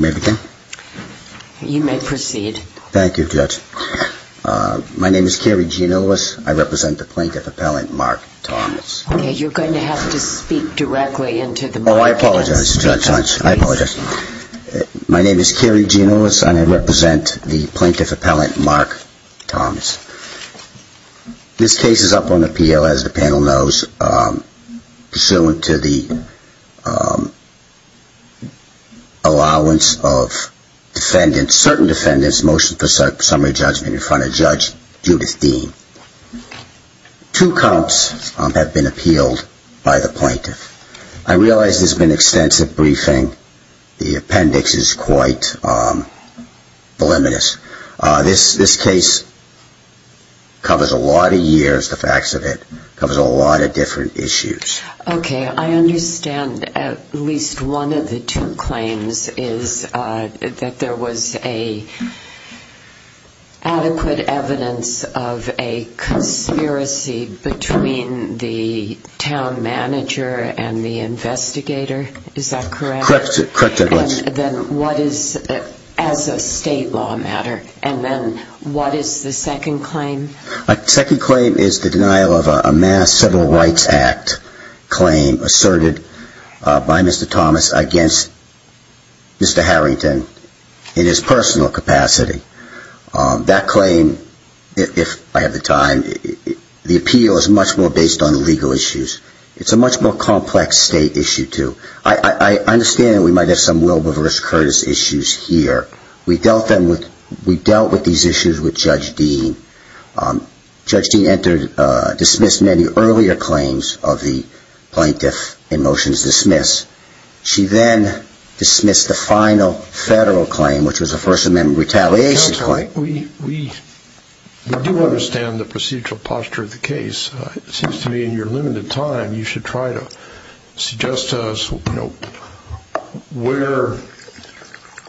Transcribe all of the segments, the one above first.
May I begin? You may proceed. Thank you, Judge. My name is Kerry Giannullis. I represent the plaintiff appellant Mark Thomas. Okay, you're going to have to speak directly into the mic. Oh, I apologize, Judge. I apologize. My name is Kerry Giannullis, and I represent the plaintiff appellant Mark Thomas. This case is up on appeal, as the panel knows, pursuant to the allowance of certain defendants' motion for summary judgment in front of Judge Judith Dean. Two counts have been appealed by the plaintiff. I realize there's been extensive briefing. The appendix is quite voluminous. This case covers a lot of years, the facts of it, covers a lot of different issues. Okay, I understand at least one of the two claims is that there was adequate evidence of a conspiracy between the town manager and the investigator. Is that correct? Corrected. Then what is, as a state law matter, and then what is the second claim? The second claim is the denial of a mass Civil Rights Act claim asserted by Mr. Thomas against Mr. Harrington in his personal capacity. That claim, if I have the time, the appeal is much more based on legal issues. It's a much more complex state issue, too. I understand we might have some Wilbur v. Curtis issues here. We dealt with these issues with Judge Dean. Judge Dean dismissed many earlier claims of the plaintiff in motions dismissed. She then dismissed the final federal claim, which was a First Amendment retaliation claim. We do understand the procedural posture of the case. It seems to me in your limited time you should try to suggest to us where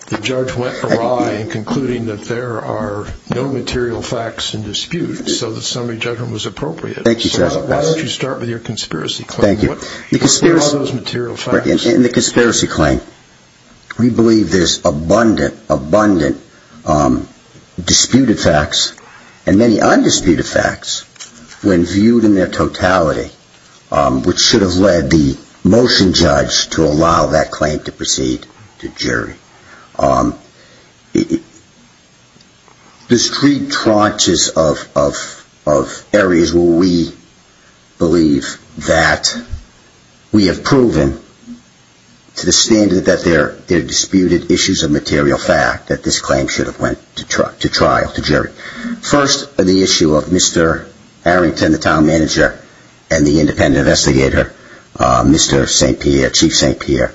the judge went awry in concluding that there are no material facts in dispute so the summary judgment was appropriate. Thank you, Judge. Why don't you start with your conspiracy claim? Thank you. What are those material facts? In the conspiracy claim, we believe there's abundant, abundant disputed facts and many undisputed facts when viewed in their totality, which should have led the motion judge to allow that claim to proceed to jury. There's three tranches of areas where we believe that we have proven to the standard that there are disputed issues of material fact that this claim should have went to trial, to jury. First, the issue of Mr. Arrington, the town manager, and the independent investigator, Mr. St. Pierre, Chief St. Pierre.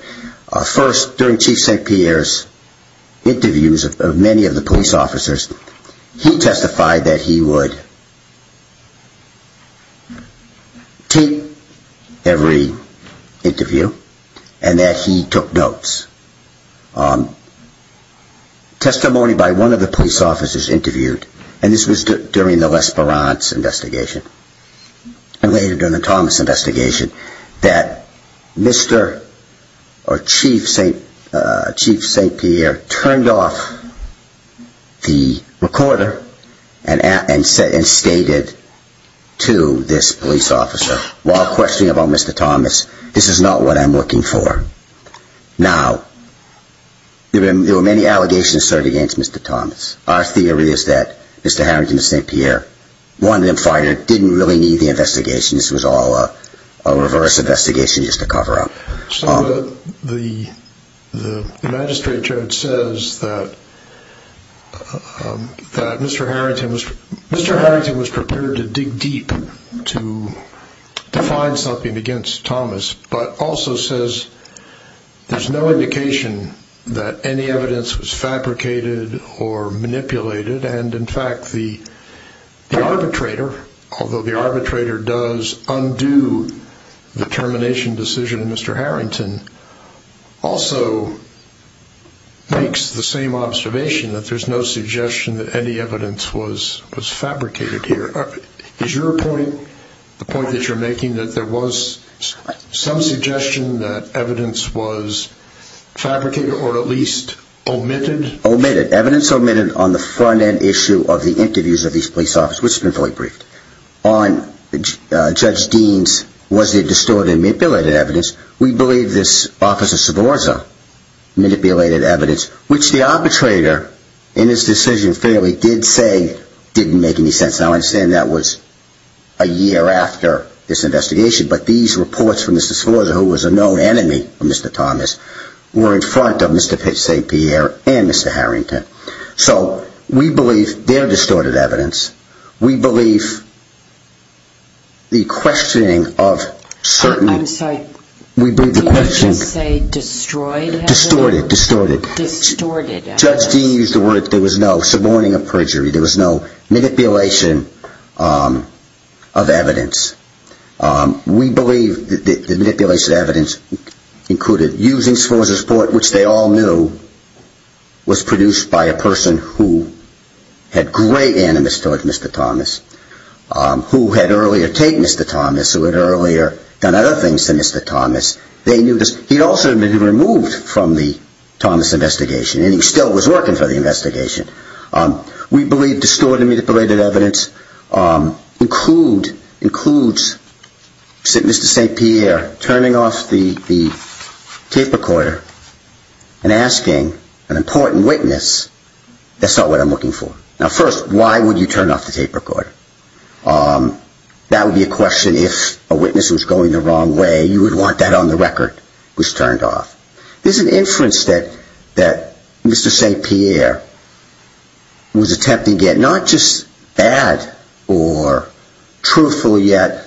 First, during Chief St. Pierre's interviews of many of the police officers, he testified that he would take every interview and that he took notes. Testimony by one of the police officers interviewed, and this was during the L'Esperance investigation and later during the Thomas investigation, that Mr. or Chief St. Pierre turned off the recorder and stated to this police officer while questioning about Mr. Thomas, this is not what I'm looking for. Now, there were many allegations against Mr. Thomas. Our theory is that Mr. Arrington and St. Pierre wanted him fired, didn't really need the investigation, this was all a reverse investigation just to cover up. The magistrate judge says that Mr. Arrington was prepared to dig deep to find something against Thomas, but also says there's no indication that any evidence was fabricated or manipulated and in fact the arbitrator, although the arbitrator does undo the termination decision of Mr. Arrington, also makes the same observation that there's no suggestion that any evidence was fabricated here. Is your point, the point that you're making, that there was some suggestion that evidence was fabricated or at least omitted? Omitted. Evidence omitted on the front end issue of the interviews of these police officers, which has been fully briefed. On Judge Dean's, was there distorted and manipulated evidence? We believe this Officer Svorza manipulated evidence, which the arbitrator in his decision fairly did say didn't make any sense. Now I understand that was a year after this investigation, but these reports from Mr. Svorza, who was a known enemy of Mr. Thomas, were in front of Mr. St. Pierre and Mr. Arrington. So we believe they're distorted evidence. We believe the questioning of certain... of evidence. We believe the manipulation of evidence included using Svorza's report, which they all knew was produced by a person who had great animus towards Mr. Thomas, who had earlier taken Mr. Thomas, who had earlier done other things to Mr. Thomas. They knew this. He'd also been removed from the Thomas investigation and he still was working for the investigation. We believe distorted and manipulated evidence includes Mr. St. Pierre turning off the tape recorder and asking an important witness, that's not what I'm looking for. Now first, why would you turn off the tape recorder? That would be a question if a witness was going the wrong way, you would want that on the record was turned off. There's an inference that Mr. St. Pierre was attempting at not just bad or truthful yet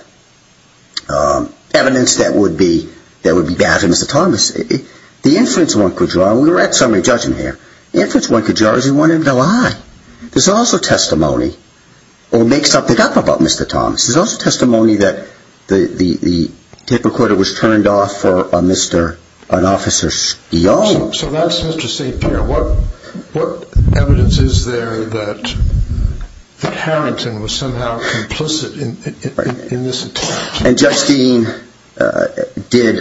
evidence that would be bad for Mr. Thomas. The inference one could draw, and we're at summary judging here, the inference one could draw is he wanted to lie. There's also testimony, or make something up about Mr. Thomas. There's also testimony that the tape recorder was turned off for an officer's e.o. So that's Mr. St. Pierre. What evidence is there that Harrington was somehow complicit in this attack? And Judge Steen did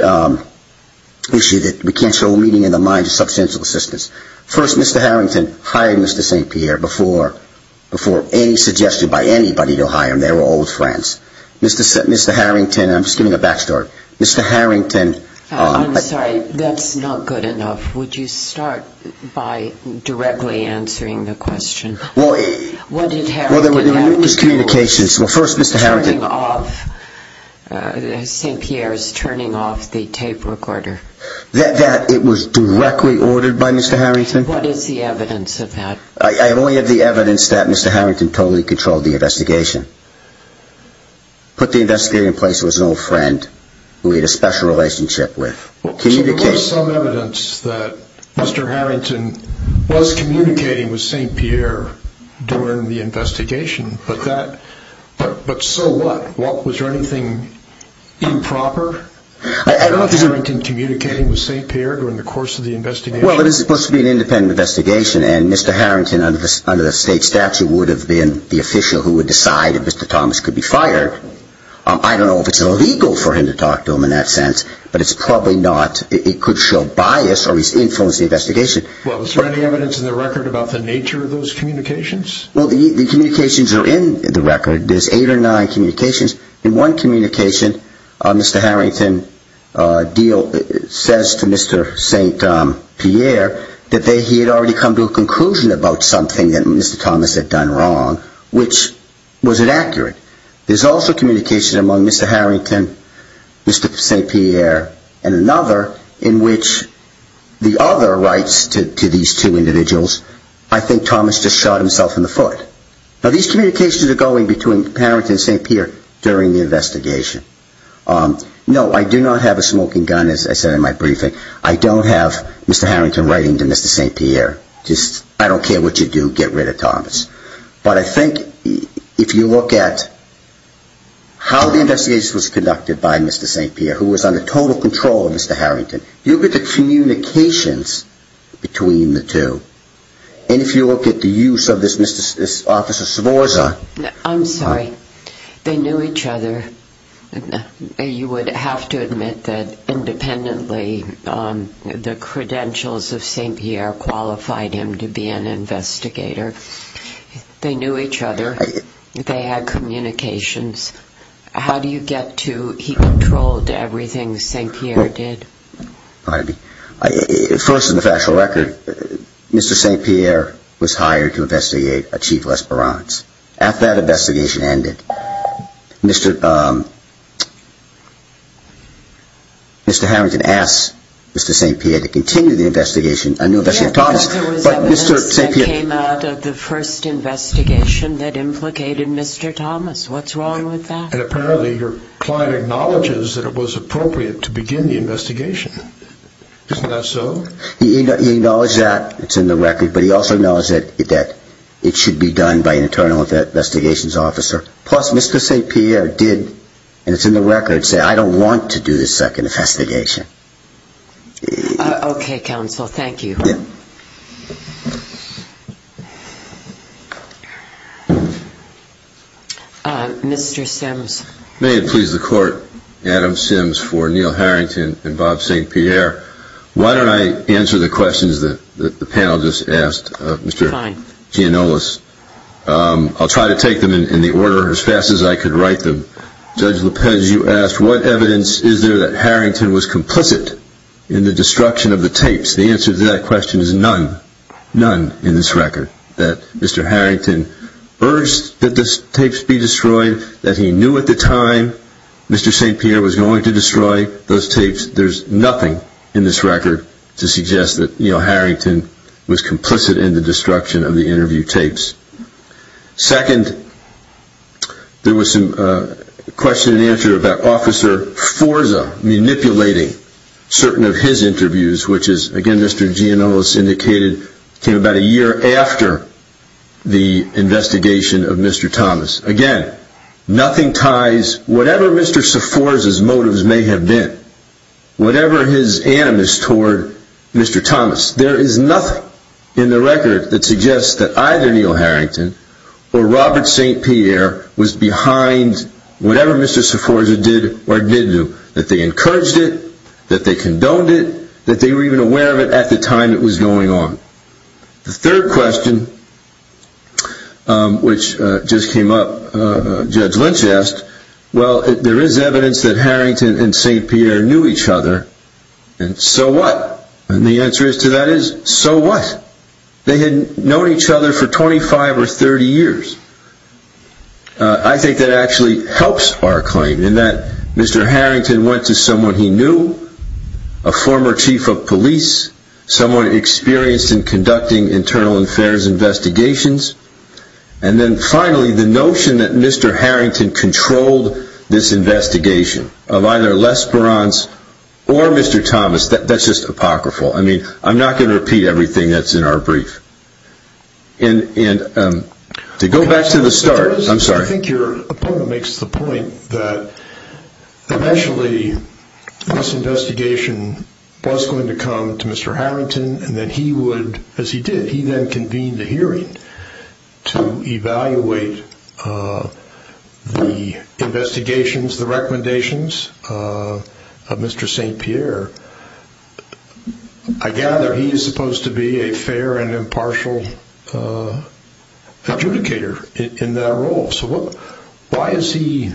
issue that we can't show meaning in the mind of substantial assistance. First, Mr. Harrington hired Mr. St. Pierre before any suggestion by anybody to hire him. They were old friends. Mr. Harrington, and I'm just giving a back story, Mr. Harrington... St. Pierre's turning off the tape recorder. That it was directly ordered by Mr. Harrington? What is the evidence of that? I only have the evidence that Mr. Harrington totally controlled the investigation. Put the investigator in place who was an old friend, who he had a special relationship with. So there was some evidence that Mr. Harrington was communicating with St. Pierre during the investigation, but so what? Was there anything improper? I don't know if Mr. Harrington was communicating with St. Pierre during the course of the investigation. Well, this is supposed to be an independent investigation, and Mr. Harrington, under the state statute, would have been the official who would decide if Mr. Thomas could be fired. I don't know if it's illegal for him to talk to him in that sense, but it's probably not. It could show bias or influence the investigation. Well, is there any evidence in the record about the nature of those communications? Well, the communications are in the record. There's eight or nine communications. In one communication, Mr. Harrington says to Mr. St. Pierre that he had already come to a conclusion about something that Mr. Thomas had done wrong, which, was it accurate? There's also communication among Mr. Harrington, Mr. St. Pierre, and another in which the other writes to these two individuals, I think Thomas just shot himself in the foot. Now, these communications are going between Mr. Harrington and Mr. St. Pierre during the investigation. No, I do not have a smoking gun, as I said in my briefing. I don't have Mr. Harrington writing to Mr. St. Pierre. I don't care what you do, get rid of Thomas. But I think if you look at how the investigation was conducted by Mr. St. Pierre, who was under total control of Mr. Harrington, you look at the communications between the two, and if you look at the use of this Mr. St. Pierre. I'm sorry. They knew each other. You would have to admit that independently, the credentials of St. Pierre qualified him to be an investigator. They knew each other. They had communications. How do you get to he controlled everything St. Pierre did? Pardon me. First, in the factual record, Mr. St. Pierre was hired to investigate a Chief L'Espérance. After that investigation ended, Mr. Harrington asked Mr. St. Pierre to continue the investigation. Apparently, your client acknowledges that it was appropriate to begin the investigation. Isn't that so? He acknowledges that. It's in the record. But he also acknowledges that it should be done by an internal investigations officer. Plus, Mr. St. Pierre did, and it's in the record, say, I don't want to do this second investigation. Okay, counsel. Thank you. Mr. Sims. May it please the court, Adam Sims for Neil Harrington and Bob St. Pierre. Why don't I answer the questions that the panel just asked Mr. Giannullis? I'll try to take them in the order, as fast as I could write them. Judge Lopez, you asked, what evidence is there that Harrington was complicit in the destruction of the tapes? The answer to that question is none. None in this record that Mr. Harrington urged that the tapes be destroyed, that he knew at the time Mr. St. Pierre was going to destroy those tapes. There's nothing in this record to suggest that, you know, Harrington was complicit in the destruction of the interview tapes. Second, there was some question and answer about Officer Forza manipulating certain of his interviews, which is, again, Mr. Giannullis indicated came about a year after the investigation of Mr. Thomas. Again, nothing ties whatever Mr. Forza's motives may have been, whatever his animus toward Mr. Thomas. There is nothing in the record that suggests that either Neil Harrington or Robert St. Pierre was behind whatever Mr. Forza did or didn't do. That they encouraged it, that they condoned it, that they were even aware of it at the time it was going on. The third question, which just came up, Judge Lynch asked, well, there is evidence that Harrington and St. Pierre knew each other, and so what? And the answer to that is, so what? They had known each other for 25 or 30 years. I think that actually helps our claim in that Mr. Harrington went to someone he knew, a former chief of police, someone experienced in conducting internal affairs investigations. And then finally, the notion that Mr. Harrington controlled this investigation of either L'Esperance or Mr. Thomas, that's just apocryphal. I mean, I'm not going to repeat everything that's in our brief. And to go back to the start, I'm sorry. I think your opponent makes the point that eventually this investigation was going to come to Mr. Harrington, and that he would, as he did, he then convened a hearing to evaluate the investigations, the recommendations of Mr. St. Pierre. I gather he is supposed to be a fair and impartial adjudicator in that role. So why is he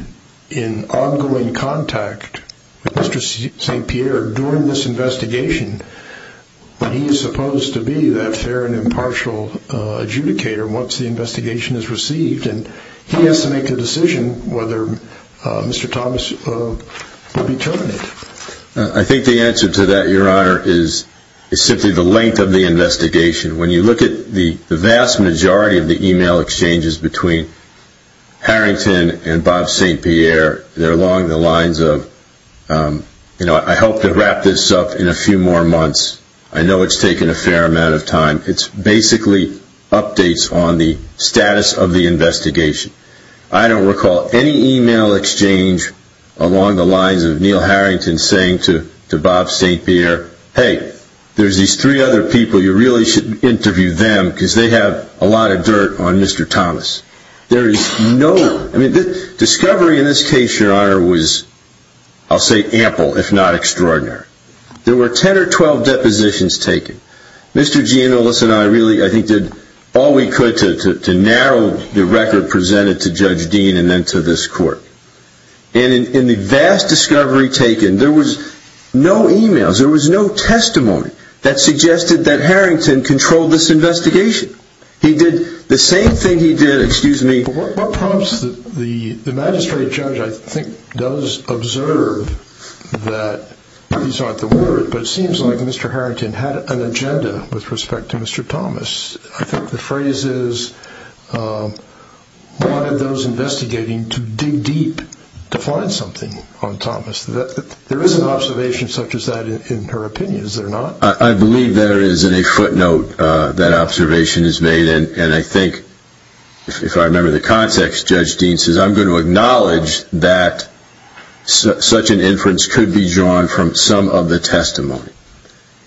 in ongoing contact with Mr. St. Pierre during this investigation when he is supposed to be that fair and impartial adjudicator once the investigation is received? And he has to make a decision whether Mr. Thomas will be terminated. I think the answer to that, your honor, is simply the length of the investigation. When you look at the vast majority of the email exchanges between Harrington and Bob St. Pierre, they're along the lines of, you know, I hope to wrap this up in a few more months. I know it's taken a fair amount of time. It's basically updates on the status of the investigation. I don't recall any email exchange along the lines of Neil Harrington saying to Bob St. Pierre, hey, there's these three other people, you really should interview them because they have a lot of dirt on Mr. Thomas. There is no, I mean, discovery in this case, your honor, was, I'll say ample, if not extraordinary. There were 10 or 12 depositions taken. Mr. Giannullis and I really, I think, did all we could to narrow the record presented to Judge Dean and then to this court. And in the vast discovery taken, there was no emails, there was no testimony that suggested that Harrington controlled this investigation. He did the same thing he did, excuse me. The magistrate judge, I think, does observe that, these aren't the words, but it seems like Mr. Harrington had an agenda with respect to Mr. Thomas. I think the phrase is, wanted those investigating to dig deep to find something on Thomas. There is an observation such as that in her opinion, is there not? I believe there is in a footnote that observation is made, and I think, if I remember the context, Judge Dean says, I'm going to acknowledge that such an inference could be drawn from some of the testimony.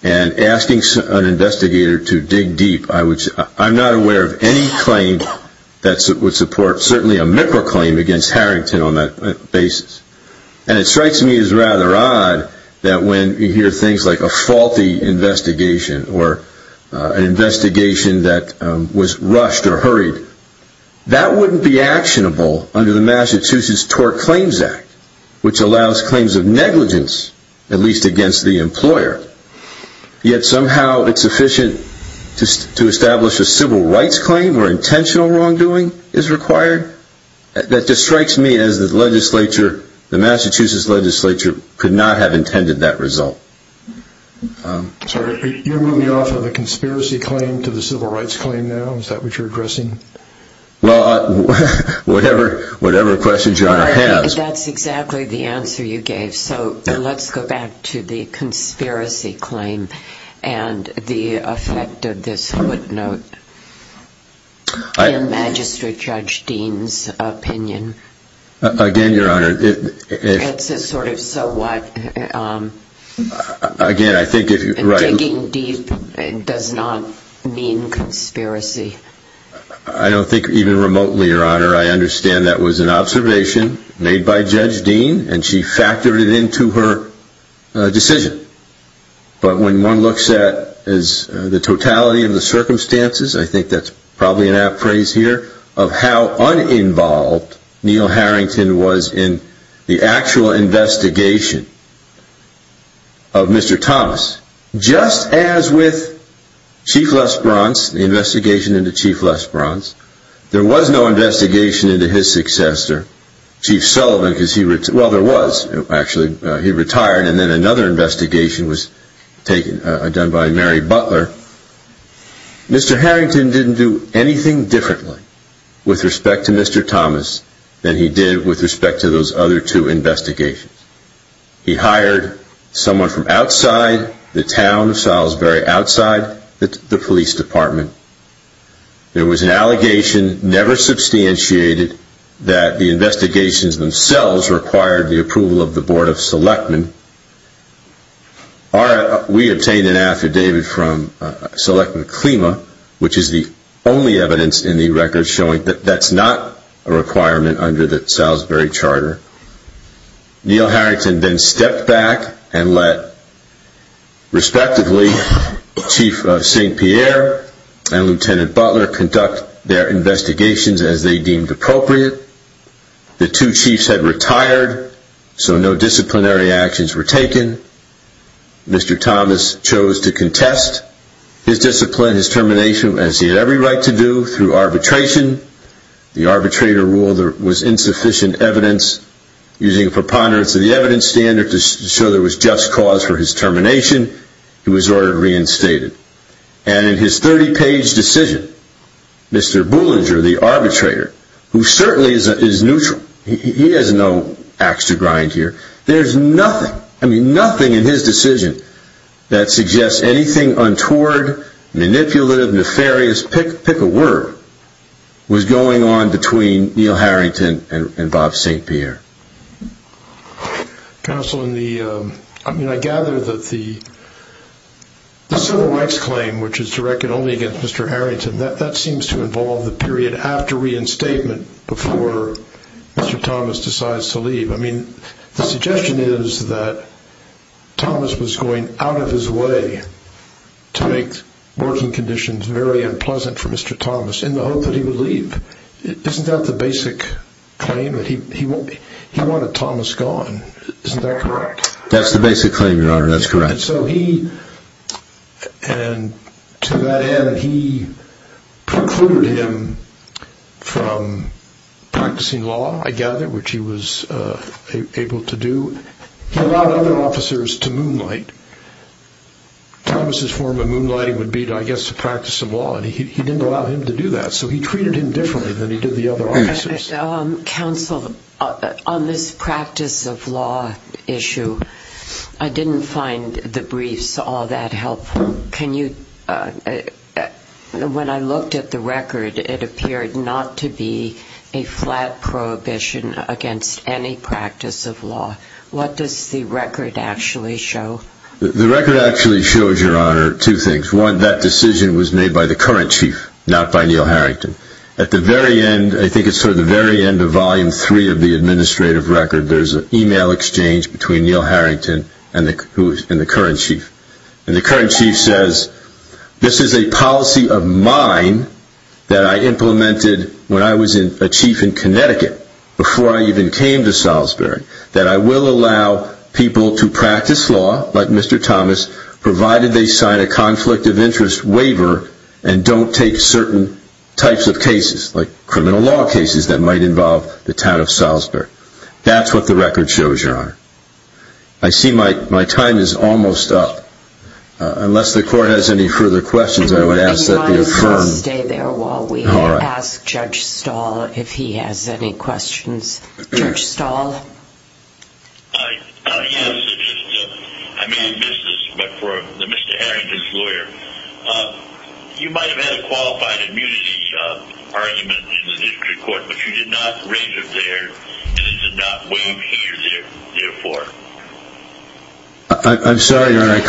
And asking an investigator to dig deep, I'm not aware of any claim that would support, certainly a MIPRA claim against Harrington on that basis. And it strikes me as rather odd that when you hear things like a faulty investigation, or an investigation that was rushed or hurried, that wouldn't be actionable under the Massachusetts Tort Claims Act, which allows claims of negligence, at least against the employer. Yet, somehow, it's sufficient to establish a civil rights claim where intentional wrongdoing is required? That just strikes me as the legislature, the Massachusetts legislature, could not have intended that result. Sorry, are you moving off of the conspiracy claim to the civil rights claim now? Is that what you're addressing? Well, whatever questions you want to ask. That's exactly the answer you gave, so let's go back to the conspiracy claim and the effect of this footnote. In Magistrate Judge Dean's opinion, it's a sort of so what, and digging deep does not mean conspiracy. I don't think even remotely, Your Honor, I understand that was an observation made by Judge Dean, and she factored it into her decision. But when one looks at the totality of the circumstances, I think that's probably an apt phrase here, of how uninvolved Neal Harrington was in the actual investigation of Mr. Thomas. Just as with Chief Lesperance, the investigation into Chief Lesperance, there was no investigation into his successor, Chief Sullivan, because he retired, and then another investigation was done by Mary Butler. Mr. Harrington didn't do anything differently with respect to Mr. Thomas than he did with respect to those other two investigations. He hired someone from outside the town of Salisbury, outside the police department. There was an allegation, never substantiated, that the investigations themselves required the approval of the Board of Selectmen. We obtained an affidavit from Selectmen-Clema, which is the only evidence in the records showing that that's not a requirement under the Salisbury Charter. Neal Harrington then stepped back and let, respectively, Chief St. Pierre and Lt. Butler conduct their investigations as they deemed appropriate. The two chiefs had retired, so no disciplinary actions were taken. Mr. Thomas chose to contest his discipline, his termination, as he had every right to do, through arbitration. The arbitrator ruled there was insufficient evidence. Using a preponderance of the evidence standard to show there was just cause for his termination, he was ordered reinstated. And in his 30-page decision, Mr. Bullinger, the arbitrator, who certainly is neutral, he has no axe to grind here, there's nothing, I mean nothing in his decision that suggests anything untoward, manipulative, nefarious. Pick a word, what was going on between Neal Harrington and Bob St. Pierre? Counsel, I mean I gather that the civil rights claim, which is directed only against Mr. Harrington, that seems to involve the period after reinstatement before Mr. Thomas decides to leave. I mean, the suggestion is that Thomas was going out of his way to make working conditions very unpleasant for Mr. Thomas, in the hope that he would leave. Isn't that the basic claim, that he wanted Thomas gone? Isn't that correct? That's the basic claim, Your Honor, that's correct. And so he, and to that end, he precluded him from practicing law, I gather, which he was able to do. He allowed other officers to moonlight. Thomas' form of moonlighting would be, I guess, to practice some law, and he didn't allow him to do that, so he treated him differently than he did the other officers. Counsel, on this practice of law issue, I didn't find the briefs all that helpful. Can you, when I looked at the record, it appeared not to be a flat prohibition against any practice of law. What does the record actually show? The record actually shows, Your Honor, two things. One, that decision was made by the current chief, not by Neal Harrington. At the very end, I think it's sort of the very end of Volume 3 of the administrative record, there's an email exchange between Neal Harrington and the current chief. And the current chief says, this is a policy of mine that I implemented when I was a chief in Connecticut, before I even came to Salisbury, that I will allow people to practice law, like Mr. Thomas, provided they sign a conflict of interest waiver, and don't take certain types of cases, like criminal law cases that might involve the town of Salisbury. That's what the record shows, Your Honor. I see my time is almost up. Unless the court has any further questions, I would ask that they affirm. And you might as well stay there while we ask Judge Stahl if he has any questions. Judge Stahl? I have a suggestion. I may have missed this, but for Mr. Harrington's lawyer, you might have had a qualified immunity argument in the district court, but you did not raise it there, and it did not weigh you there for. I'm sorry, Your Honor, I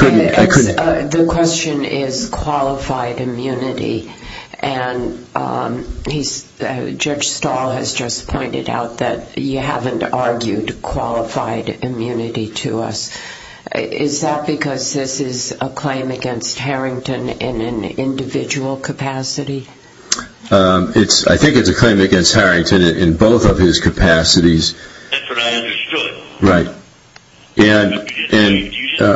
couldn't... The question is qualified immunity, and Judge Stahl has just pointed out that you haven't argued qualified immunity to us. Is that because this is a claim against Harrington in an individual capacity? I think it's a claim against Harrington in both of his capacities. That's what I understood. Right. You didn't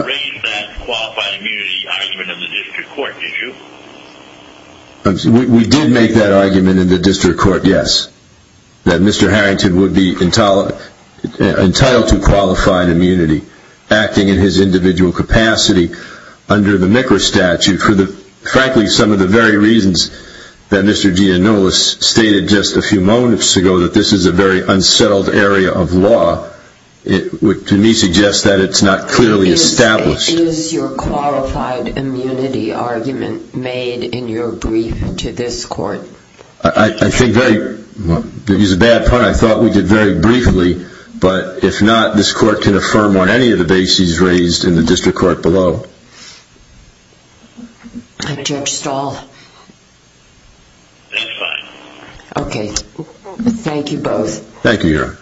raise that qualified immunity argument in the district court, did you? We did make that argument in the district court, yes. That Mr. Harrington would be entitled to qualified immunity acting in his individual capacity under the MICRA statute for, frankly, some of the very reasons that Mr. Giannullis stated just a few moments ago, that this is a very unsettled area of law, which to me suggests that it's not clearly established. Is your qualified immunity argument made in your brief to this court? I think very... To use a bad pun, I thought we did very briefly, but if not, this court can affirm on any of the bases raised in the district court below. Judge Stahl... That's fine. Okay. Thank you both. Thank you, Your Honor.